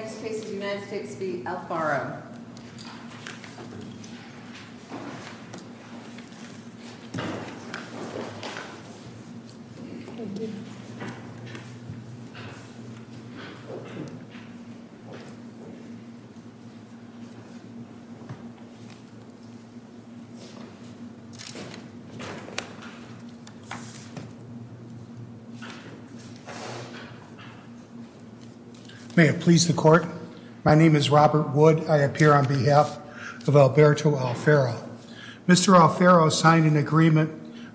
The court may have pleased the court. My name is Robert Wood. I appear on behalf of Alberto Alfaro. Mr. Alfaro signed an agreement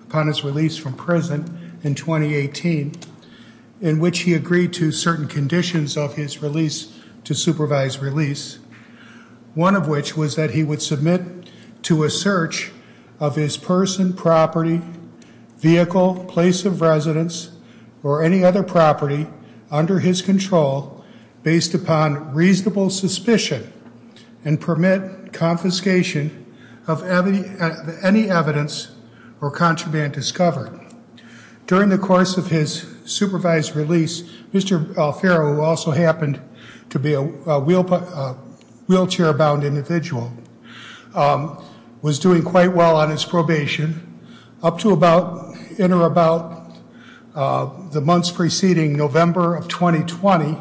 upon his release from prison in 2018 in which he agreed to supervise release, one of which was that he would submit to a search of his person, property, vehicle, place of residence, or any other property under his control based upon reasonable suspicion and permit confiscation of any evidence or contraband discovered. During the course of his supervised release, Mr. Alfaro, who also happened to be a wheelchair-bound individual, was doing quite well on his probation up to about, in or about, the months preceding November of 2020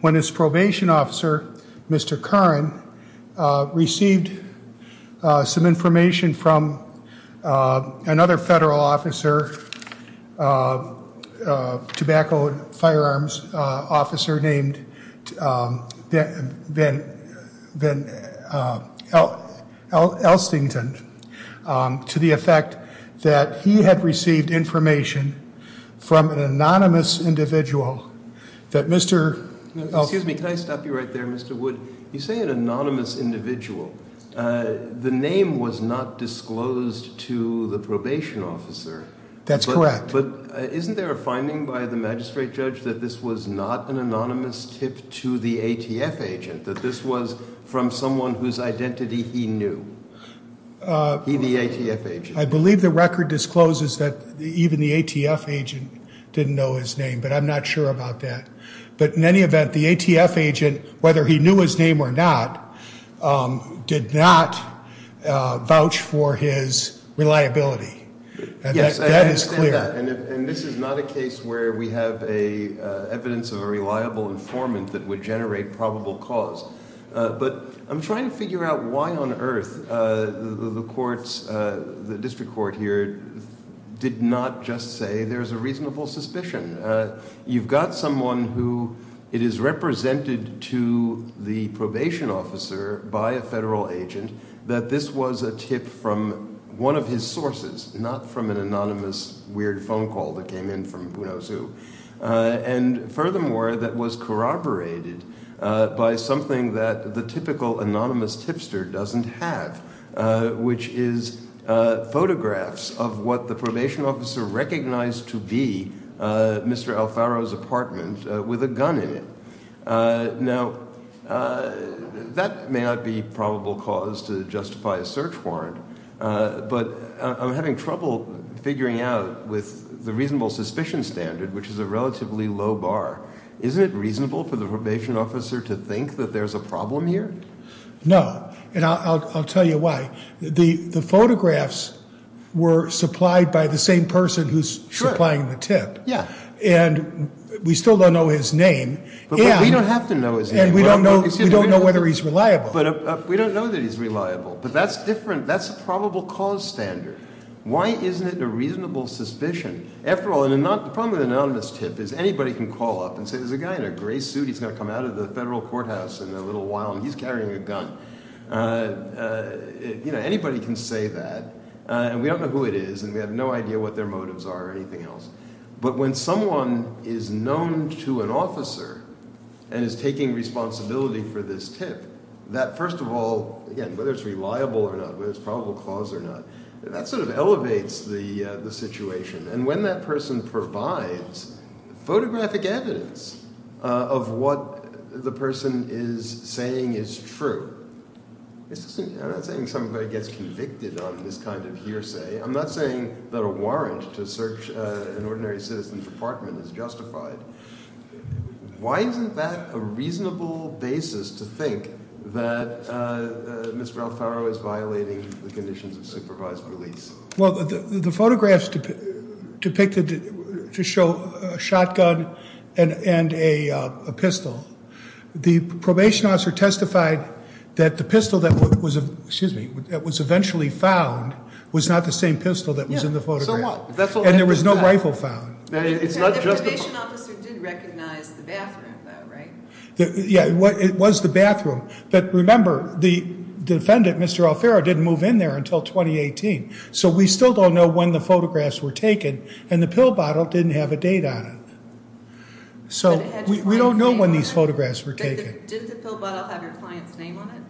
when his probation officer, Mr. Curran, received some information from another federal officer, a tobacco and firearms officer named Ben Elstington, to the effect that he had received information from an anonymous individual that Mr. Elstington Excuse me. Can I stop you right there, Mr. Wood? You say an anonymous individual. The name was not disclosed to the probation officer. That's correct. But isn't there a finding by the magistrate judge that this was not an anonymous tip to the ATF agent, that this was from someone whose identity he knew? He, the ATF agent. I believe the record discloses that even the ATF agent didn't know his name, but I'm not sure about that. But in any event, the ATF agent, whether he knew his name or not, did not vouch for his reliability. Yes, I understand that, and this is not a case where we have evidence of a reliable informant that would generate probable cause. But I'm trying to figure out why on earth the courts, the district court here, did not just say there's a reasonable suspicion. You've got someone who, it is represented to the probation officer by a federal agent that this was a tip from one of his sources, not from an anonymous weird phone call that came in from who knows who, and furthermore, that was corroborated by something that the typical anonymous tipster doesn't have, which is photographs of what the probation officer recognized to be Mr. Alfaro's apartment with a gun in it. Now, that may not be probable cause to justify a search warrant, but I'm having trouble figuring out with the reasonable suspicion standard, which is a relatively low bar, isn't it reasonable for the probation officer to think that there's a problem here? No, and I'll tell you why. The photographs were supplied by the same person who's supplying the tip, and we still don't know his name, and we don't know whether he's reliable. We don't know that he's reliable, but that's different, that's a probable cause standard. Why isn't it a reasonable suspicion? After all, the problem with an anonymous tip is anybody can call up and say there's a guy in a gray suit, he's going to come out of the federal courthouse in a little while and he's carrying a gun. Anybody can say that, and we don't know who it is, and we have no idea what their motives are or anything else. But when someone is known to an officer and is taking responsibility for this tip, that first of all, again, whether it's reliable or not, whether it's probable cause or not, that sort of elevates the situation. And when that person provides photographic evidence of what the person is saying is true, I'm not saying somebody gets convicted on this kind of hearsay, I'm not saying that a warrant to search an ordinary citizen's apartment is justified. Why isn't that a reasonable basis to think that Mr. Alfaro is violating the conditions of supervised release? Well, the photographs depicted to show a shotgun and a pistol, the probation officer testified that the pistol that was eventually found was not the same pistol that was in the photograph. Yeah, so what? And there was no rifle found. The probation officer did recognize the bathroom, though, right? Yeah, it was the bathroom, but remember, the defendant, Mr. Alfaro, didn't move in there until 2018. So we still don't know when the photographs were taken, and the pill bottle didn't have a date on it. So we don't know when these photographs were taken. Did the pill bottle have your client's name on it?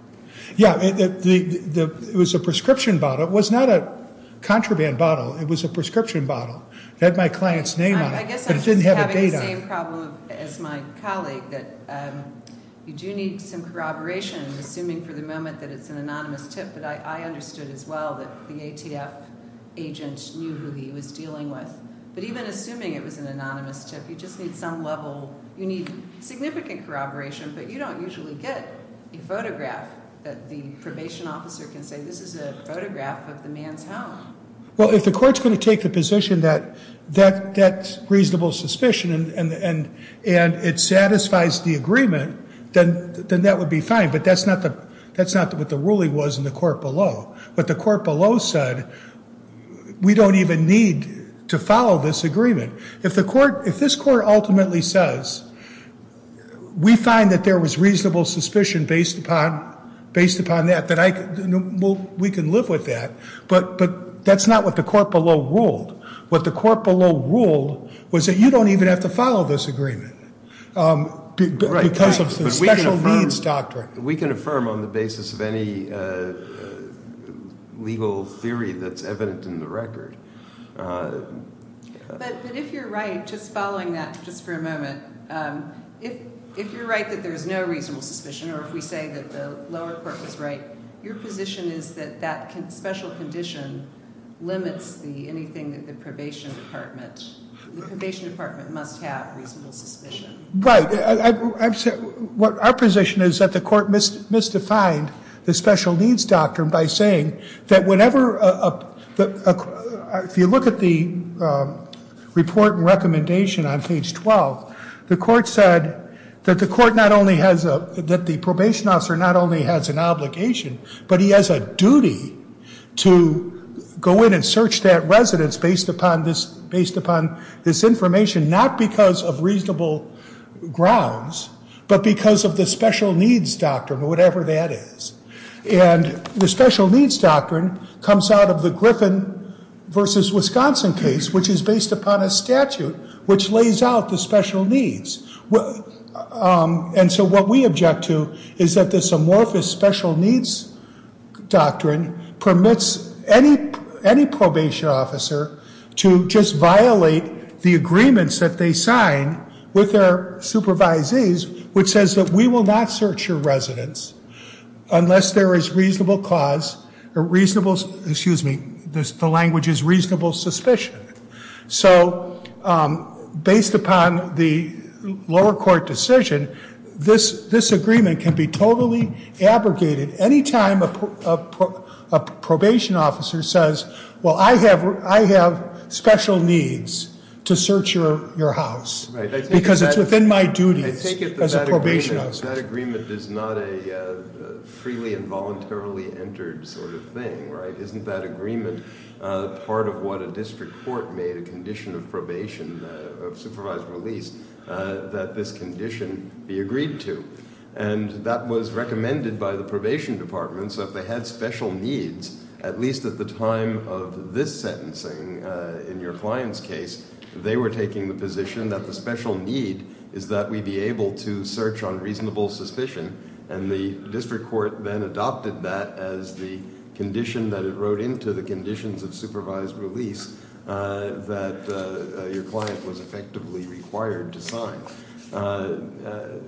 Yeah, it was a prescription bottle, it was not a contraband bottle, it was a prescription bottle. It had my client's name on it, but it didn't have a date on it. I guess I'm just having the same problem as my colleague, that you do need some corroboration, assuming for the moment that it's an anonymous tip, but I understood as well that the ATF agent knew who he was dealing with. But even assuming it was an anonymous tip, you just need some level, you need significant corroboration, but you don't usually get a photograph that the probation officer can say, this is a photograph of the man's home. Well, if the court's going to take the position that that's reasonable suspicion and it satisfies the agreement, then that would be fine, but that's not what the ruling was in the court below. What the court below said, we don't even need to follow this agreement. If this court ultimately says, we find that there was reasonable suspicion based upon that, we can live with that, but that's not what the court below ruled. What the court below ruled was that you don't even have to follow this agreement. Because of the special needs doctrine. We can affirm on the basis of any legal theory that's evident in the record. But if you're right, just following that just for a moment, if you're right that there's no reasonable suspicion, or if we say that the lower court was right, your position is that that special condition limits anything that the probation department, the probation department can do. Right. Our position is that the court misdefined the special needs doctrine by saying that whenever, if you look at the report and recommendation on page 12, the court said that the court not only has a, that the probation officer not only has an obligation, but he has a duty to go in and search that residence based upon this information, not because of reasonable grounds, but because of the special needs doctrine, or whatever that is. And the special needs doctrine comes out of the Griffin versus Wisconsin case, which is based upon a statute which lays out the special needs. And so what we object to is that this amorphous special needs doctrine permits any probation officer to just violate the agreements that they sign with their supervisees, which says that we will not search your residence unless there is reasonable cause, or reasonable, excuse me, the language is reasonable suspicion. So based upon the lower court decision, this agreement can be totally abrogated anytime a probation officer says, well, I have special needs to search your house, because it's within my duties as a probation officer. I take it that that agreement is not a freely and voluntarily entered sort of thing, right? Isn't that agreement part of what a district court made a condition of probation, of supervised release, that this condition be agreed to? And that was recommended by the probation department. So if they had special needs, at least at the time of this sentencing, in your client's case, they were taking the position that the special need is that we be able to search on reasonable suspicion. And the district court then adopted that as the condition that it wrote into the conditions So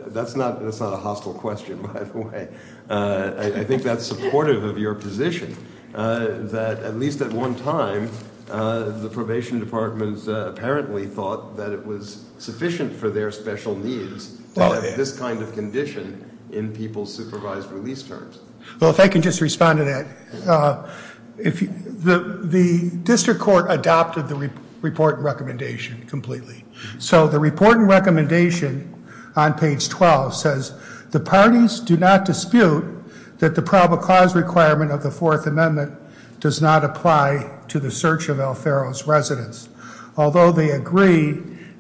that's not a hostile question, by the way. I think that's supportive of your position, that at least at one time, the probation department apparently thought that it was sufficient for their special needs to have this kind of condition in people's supervised release terms. Well, if I can just respond to that. The district court adopted the report and recommendation completely. So the report and recommendation on page 12 says, The parties do not dispute that the probable cause requirement of the Fourth Amendment does not apply to the search of Alfero's residence. Although they agree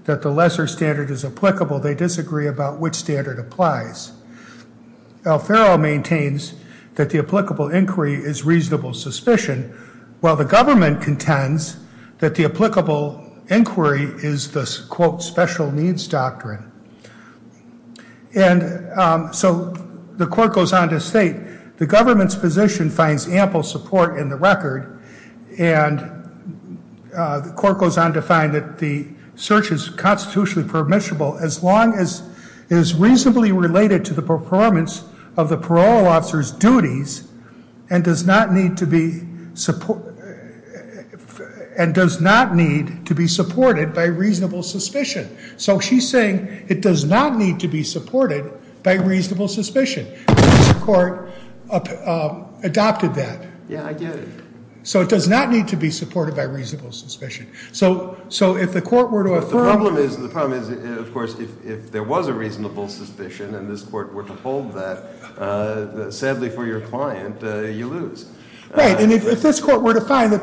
that the lesser standard is applicable, they disagree about which standard applies. Alfero maintains that the applicable inquiry is reasonable suspicion, while the government contends that the applicable inquiry is the, quote, special needs doctrine. And so the court goes on to state, the government's position finds ample support in the record, and the court goes on to find that the search is constitutionally permissible as long as it is reasonably related to the performance of the parole officer's duties and does not need to be supported by reasonable suspicion. So she's saying it does not need to be supported by reasonable suspicion. The district court adopted that. Yeah, I get it. So it does not need to be supported by reasonable suspicion. So if the court were to affirm The problem is, of course, if there was a reasonable suspicion and this court were to find that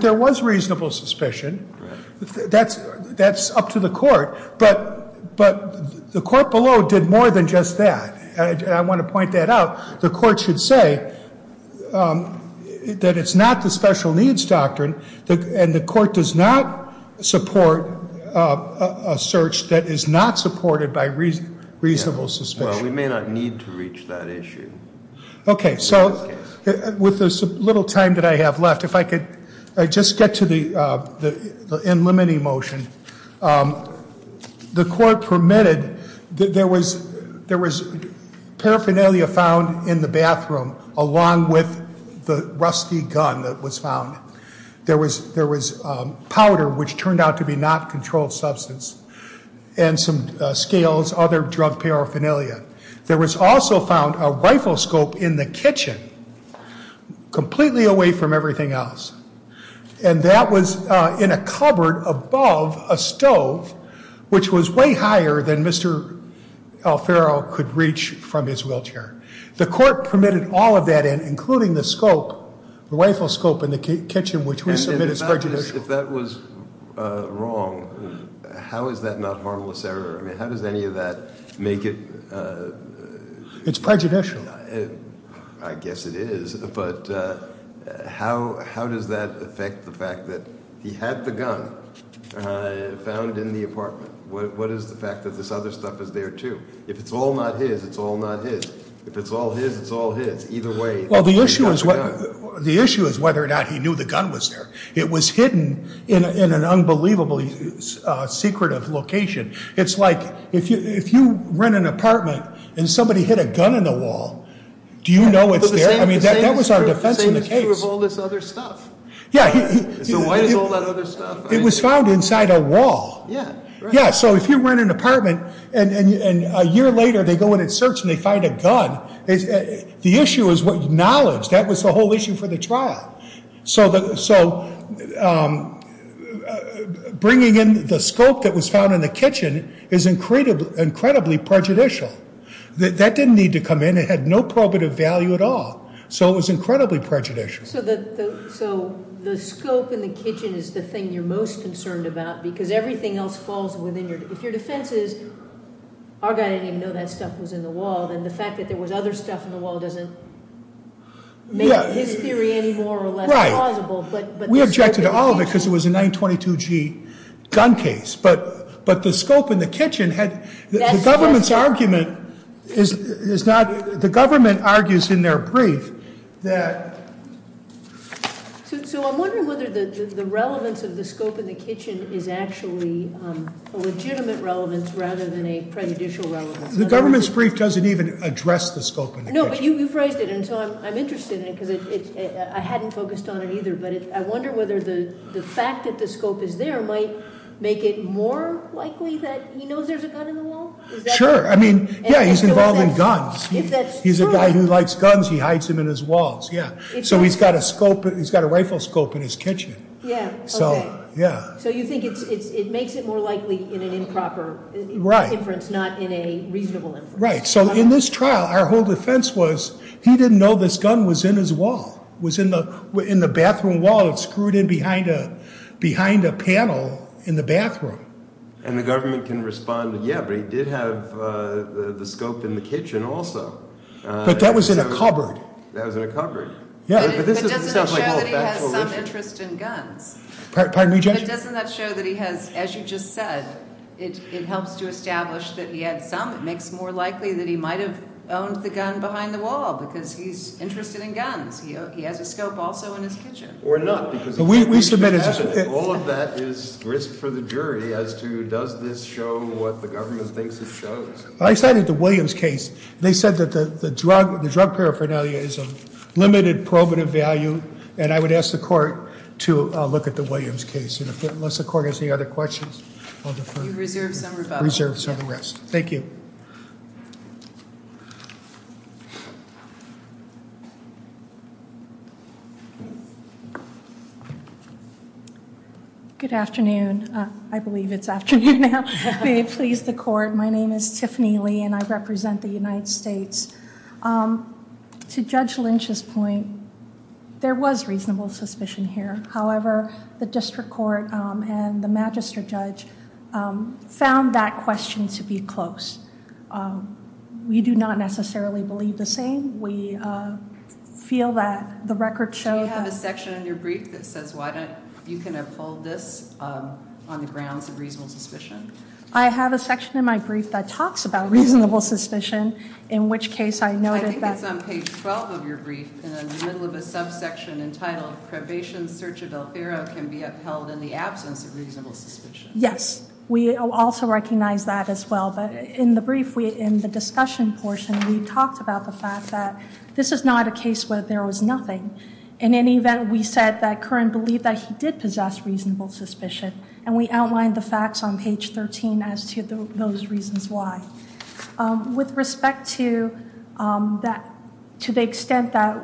there was reasonable suspicion, that's up to the court. But the court below did more than just that. I want to point that out. The court should say that it's not the special needs doctrine, and the court does not support a search that is not supported by reasonable suspicion. Well, we may not need to reach that issue. Okay, so with this little time that I have left, if I could just get to the in-limiting motion. The court permitted that there was paraphernalia found in the bathroom along with the rusty gun that was found. There was powder, which turned out to be not controlled substance, and some scales, other drug paraphernalia. There was also found a rifle scope in the kitchen, completely away from everything else. And that was in a cupboard above a stove, which was way higher than Mr. Alfaro could reach from his wheelchair. The court permitted all of that in, including the scope, the rifle scope in the kitchen, which we submit as prejudicial. If that was wrong, how is that not harmless error? I mean, how does any of that make it- It's prejudicial. I guess it is, but how does that affect the fact that he had the gun found in the apartment? What is the fact that this other stuff is there, too? If it's all not his, it's all not his. If it's all his, it's all his. Either way- Well, the issue is whether or not he knew the gun was there. It was hidden in an unbelievably secretive location. It's like, if you rent an apartment and somebody hid a gun in the wall, do you know it's there? I mean, that was our defense in the case. But the same is true of all this other stuff. Yeah. So why is all that other stuff- It was found inside a wall. Yeah, right. Yeah, so if you rent an apartment and a year later they go in and search and they find a gun, the issue is what knowledge. That was the whole issue for the trial. So bringing in the scope that was found in the kitchen is incredibly prejudicial. That didn't need to come in. It had no probative value at all. So it was incredibly prejudicial. So the scope in the kitchen is the thing you're most concerned about because everything else falls within your- If your defense is, our guy didn't even know that stuff was in the wall, then the fact that there was other stuff in the wall doesn't make his theory any more or less plausible. We objected to all of it because it was a 922G gun case. But the scope in the kitchen had- The government's argument is not- The government argues in their brief that- So I'm wondering whether the relevance of the scope in the kitchen is actually a legitimate relevance rather than a prejudicial relevance. The government's brief doesn't even address the scope in the kitchen. No, but you phrased it and so I'm interested in it because I hadn't focused on it either. But I wonder whether the fact that the scope is there might make it more likely that he knows there's a gun in the wall? Sure. I mean, yeah, he's involved in guns. If that's true- He's a guy who likes guns. He hides them in his walls. Yeah. So he's got a rifle scope in his kitchen. Yeah. Okay. Yeah. So you think it makes it more likely in an improper- Right. In an improper inference, not in a reasonable inference. Right. So in this trial, our whole defense was he didn't know this gun was in his wall. It was in the bathroom wall. It was screwed in behind a panel in the bathroom. And the government can respond, yeah, but he did have the scope in the kitchen also. But that was in a cupboard. That was in a cupboard. Yeah. But doesn't that show that he has some interest in guns? Pardon me, Judge? But doesn't that show that he has, as you just said, it helps to establish that he had some. It makes it more likely that he might have owned the gun behind the wall because he's interested in guns. He has a scope also in his kitchen. Or not because- We submitted- All of that is risk for the jury as to does this show what the government thinks it shows. I cited the Williams case. They said that the drug paraphernalia is of limited probative value and I would ask the court to look at the Williams case. Unless the court has any other questions, I'll defer. You reserve some for- Reserve some for the rest. Thank you. Good afternoon. I believe it's afternoon now. May it please the court. My name is Tiffany Lee and I represent the United States. To Judge Lynch's point, there was reasonable suspicion here. However, the district court and the magistrate judge found that question to be close. We do not necessarily believe the same. We feel that the record shows that- Do you have a section in your brief that says why don't you kind of hold this on the grounds of reasonable suspicion? I have a section in my brief that talks about reasonable suspicion in which case I noted that- I think it's on page 12 of your brief in the middle of a subsection entitled probation search of del Ferro can be upheld in the absence of reasonable suspicion. Yes. We also recognize that as well. But in the brief, in the discussion portion, we talked about the fact that this is not a case where there was nothing. In any event, we said that Curran believed that he did possess reasonable suspicion and we outlined the facts on page 13 as to those reasons why. With respect to the extent that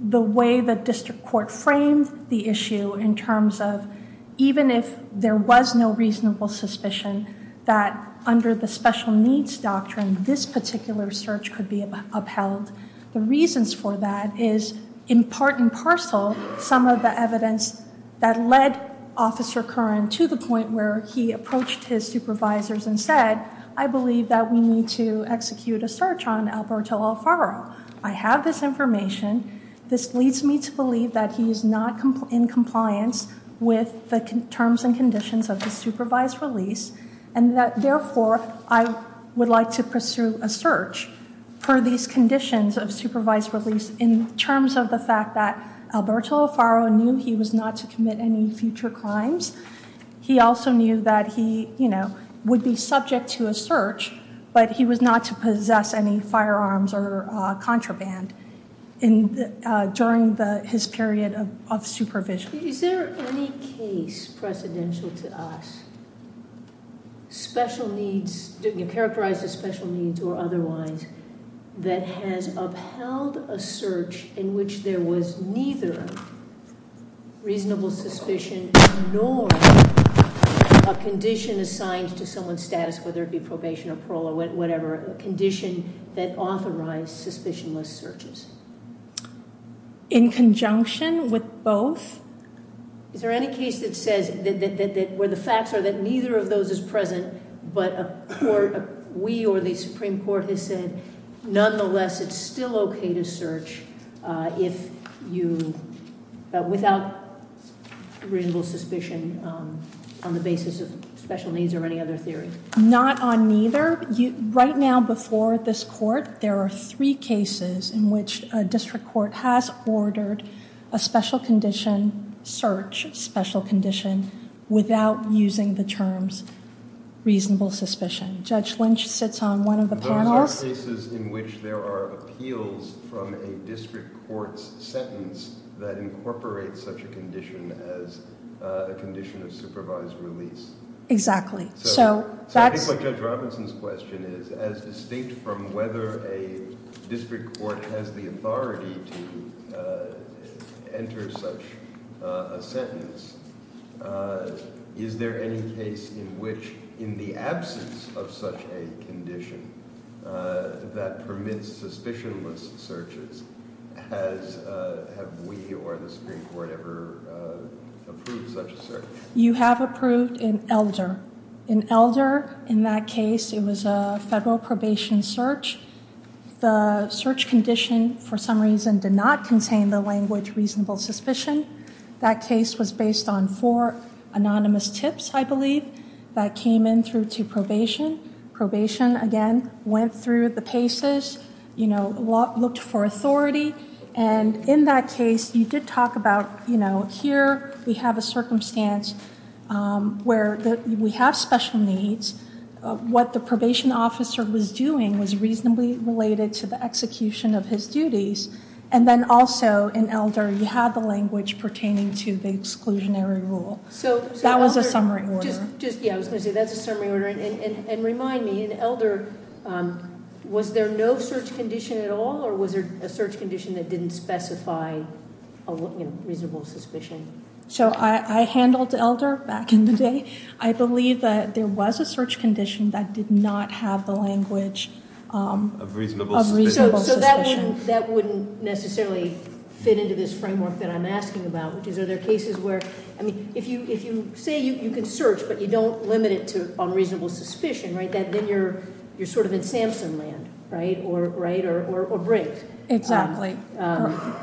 the way the district court framed the issue in terms of even if there was no reasonable suspicion that under the special needs doctrine, this particular search could be upheld. The reasons for that is in part and parcel some of the evidence that led Officer Curran to the point where he approached his supervisors and said I believe that we need to execute a search on Alberto Alfaro. I have this information. This leads me to believe that he is not in compliance with the terms and conditions of the supervised release and that therefore I would like to pursue a search for these conditions of supervised release in terms of the fact that he was not to commit any future crimes. He also knew that he would be subject to a search but he was not to possess any firearms or contraband during his period of supervision. Is there any case precedential to us, special needs, characterized as special needs or otherwise, that has upheld a search in which there was neither reasonable suspicion nor a condition assigned to someone's status, whether it be probation or parole or whatever, a condition that authorized suspicionless searches? In conjunction with both? Is there any case that says where the facts are that neither of those is present but we or the Supreme Court has said nonetheless it's still okay to search without reasonable suspicion on the basis of special needs or any other theory? Not on neither. Right now before this court there are three cases in which a district court has ordered a special condition search, special condition, without using the terms reasonable suspicion. Judge Lynch sits on one of the panels. Those are cases in which there are appeals from a district court's sentence that incorporates such a condition as a condition of supervised release. Exactly. So I think what Judge Robinson's question is, as distinct from whether a district court has the authority to enter such a sentence, is there any case in which in the absence of such a condition that permits suspicionless searches, have we or the Supreme Court ever approved such a search? You have approved in Elder. In Elder, in that case, it was a federal probation search. The search condition, for some reason, did not contain the language reasonable suspicion. That case was based on four anonymous tips, I believe, that came in through to probation. Probation, again, went through the paces, looked for authority, and in that case you did talk about here we have a circumstance where we have special needs. What the probation officer was doing was reasonably related to the execution of his duties. And then also, in Elder, you had the language pertaining to the exclusionary rule. That was a summary order. Yeah, I was going to say that's a summary order. And remind me, in Elder, was there no search condition at all or was there a search condition that didn't specify a reasonable suspicion? So I handled Elder back in the day. I believe that there was a search condition that did not have the language of reasonable suspicion. So that wouldn't necessarily fit into this framework that I'm asking about. Are there cases where, I mean, if you say you can search but you don't limit it to unreasonable suspicion, right, then you're sort of in Samson land, right? Right? Or Briggs. Exactly.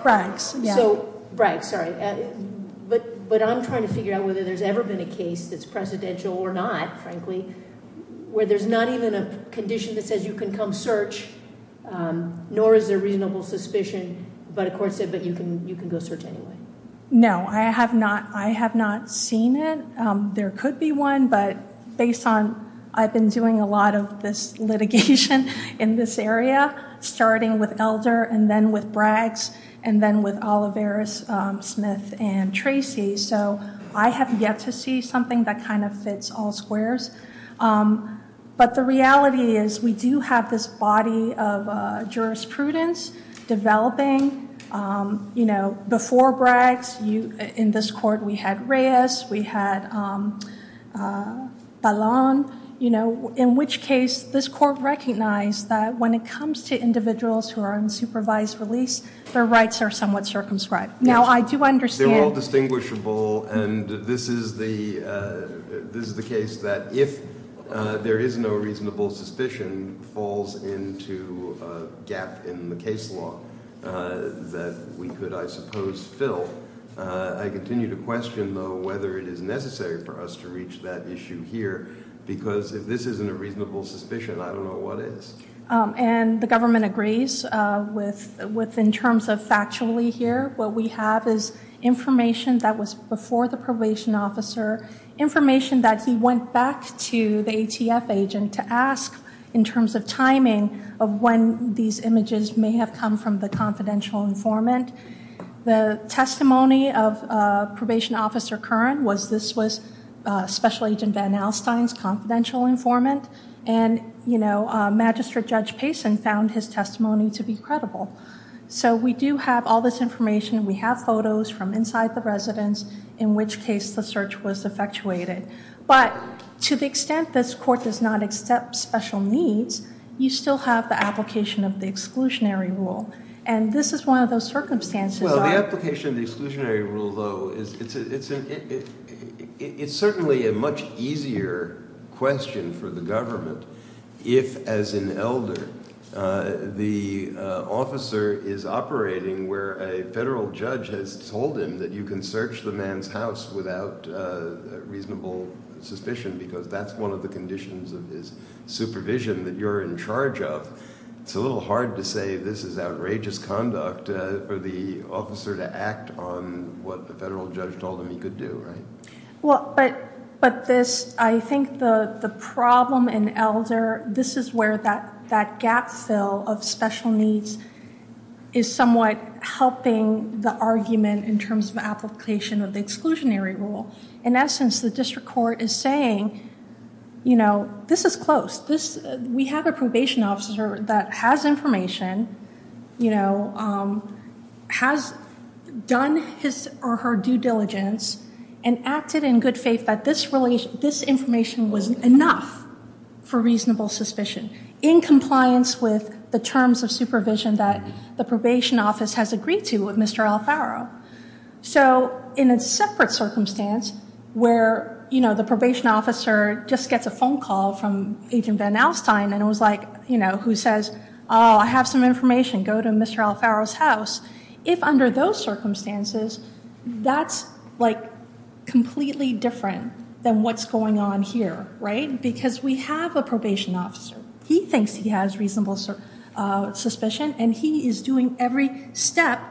Briggs, yeah. Briggs, sorry. But I'm trying to figure out whether there's ever been a case that's presidential or not, frankly, where there's not even a condition that says you can come search, nor is there reasonable suspicion, but a court said that you can go search anyway. No, I have not seen it. There could be one, but based on I've been doing a lot of this litigation in this area, starting with Elder and then with Braggs and then with Olivares, Smith, and Tracy, so I have yet to see something that kind of fits all squares. But the reality is we do have this body of jurisprudence developing, you know, before Braggs, in this court we had Reyes, we had Talon, you know, in which case this court recognized that when it comes to individuals who are in supervised release, their rights are somewhat circumscribed. Now I do understand They're all distinguishable, and this is the case that if there is no reasonable suspicion, falls into a gap in the case law that we could, I suppose, fill. I continue to question, though, whether it is necessary for us to reach that issue here, because if this isn't a reasonable suspicion, I don't know what is. And the government agrees with, in terms of factually here, what we have is information that was before the probation officer, information that he went back to the ATF agent to ask in terms of timing of when these images may have come from the confidential informant. The testimony of Probation Officer Curran was this was Special Agent Van Alstyne's confidential informant, and, you know, Magistrate Judge Payson found his testimony to be credible. So we do have all this information. We have photos from inside the residence, in which case the search was effectuated. But to the extent this court does not accept special needs, you still have the application of the exclusionary rule. And this is one of those circumstances. Well, the application of the exclusionary rule, though, it's certainly a much easier question for the government if, as an elder, the officer is operating where a federal judge has told him that you can search the man's house without reasonable suspicion because that's one of the conditions of his supervision that you're in charge of. It's a little hard to say this is outrageous conduct for the officer to act on what the federal judge told him he could do, right? Well, but this, I think the problem in elder, this is where that gap fill of special needs is somewhat helping the argument in terms of application of the exclusionary rule. In essence, the district court is saying, you know, this is close. We have a probation officer that has information, you know, has done his or her due diligence and acted in good faith that this information was enough for reasonable suspicion in compliance with the terms of supervision that the probation office has agreed to with Mr. Alfaro. So in a separate circumstance where, you know, the probation officer just gets a phone call from Agent Van Alstyne and it was like, you know, who says, oh, I have some information, go to Mr. Alfaro's house, if under those circumstances, that's, like, completely different than what's going on here, right? Because we have a probation officer. He thinks he has reasonable suspicion and he is doing every step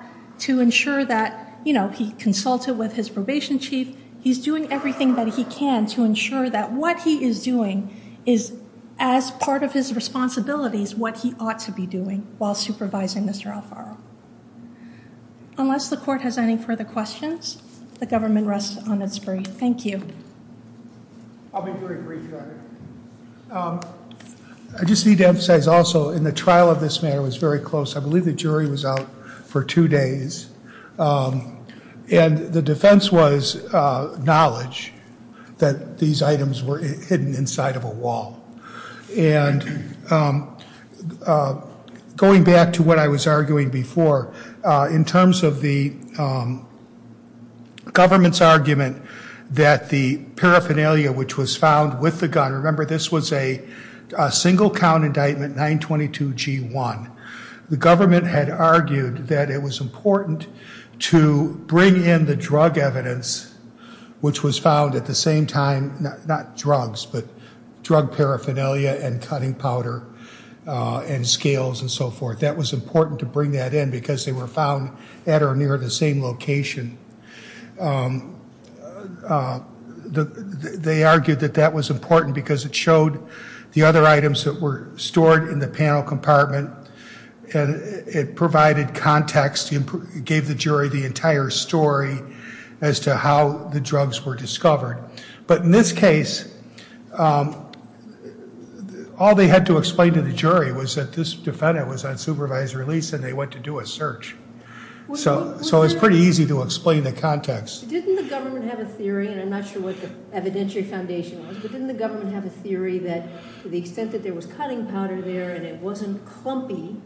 to ensure that, you know, he consulted with his probation chief. He's doing everything that he can to ensure that what he is doing is, as part of his responsibilities, what he ought to be doing while supervising Mr. Alfaro. Unless the court has any further questions, the government rests on its breath. Thank you. I'll make a very brief comment. I just need to emphasize also in the trial of this matter was very close. I believe the jury was out for two days. And the defense was knowledge that these items were hidden inside of a wall. And going back to what I was arguing before, in terms of the government's argument that the paraphernalia, which was found with the gun... Remember, this was a single-count indictment, 922 G1. The government had argued that it was important to bring in the drug evidence which was found at the same time, not drugs, but drug paraphernalia and cutting powder and scales and so forth. That was important to bring that in because they were found at or near the same location. They argued that that was important because it showed the other items that were stored in the panel compartment and it provided context, gave the jury the entire story as to how the drugs were discovered. But in this case, all they had to explain to the jury was that this defendant was on supervised release and they went to do a search. So it was pretty easy to explain the context. Didn't the government have a theory, and I'm not sure what the evidentiary foundation was, but didn't the government have a theory that to the extent that there was cutting powder there and it wasn't clumpy,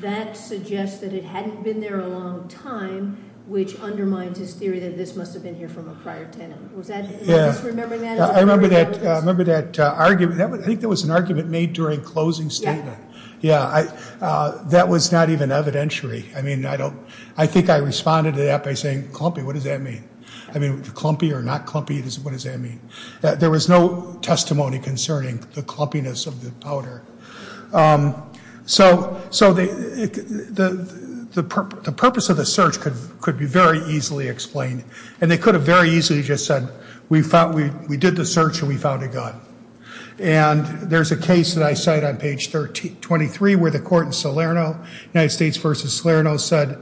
that suggests that it hadn't been there a long time, which undermines his theory that this must have been here from a prior tenant. Was that... Yeah. I remember that argument. I think there was an argument made during closing statement. Yeah. Yeah, that was not even evidentiary. I mean, I don't... I think I responded to that by saying, clumpy, what does that mean? I mean, clumpy or not clumpy, what does that mean? There was no testimony concerning the clumpiness of the powder. So the purpose of the search could be very easily explained and they could have very easily just said, we did the search and we found a gun. And there's a case that I cite on page 23 where the court in Salerno, United States versus Salerno said,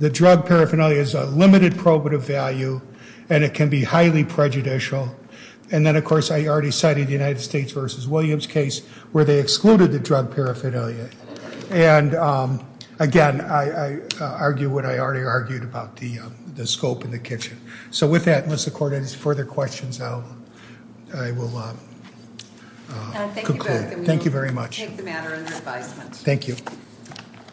the drug paraphernalia is a limited probative value and it can be highly prejudicial. And then of course, I already cited United States versus Williams case where they excluded the drug paraphernalia. And again, I argue what I already argued about the scope in the kitchen. So with that, unless the court has further questions, I will conclude. Thank you very much. We'll take the matter under advisement. Thank you. Thank you.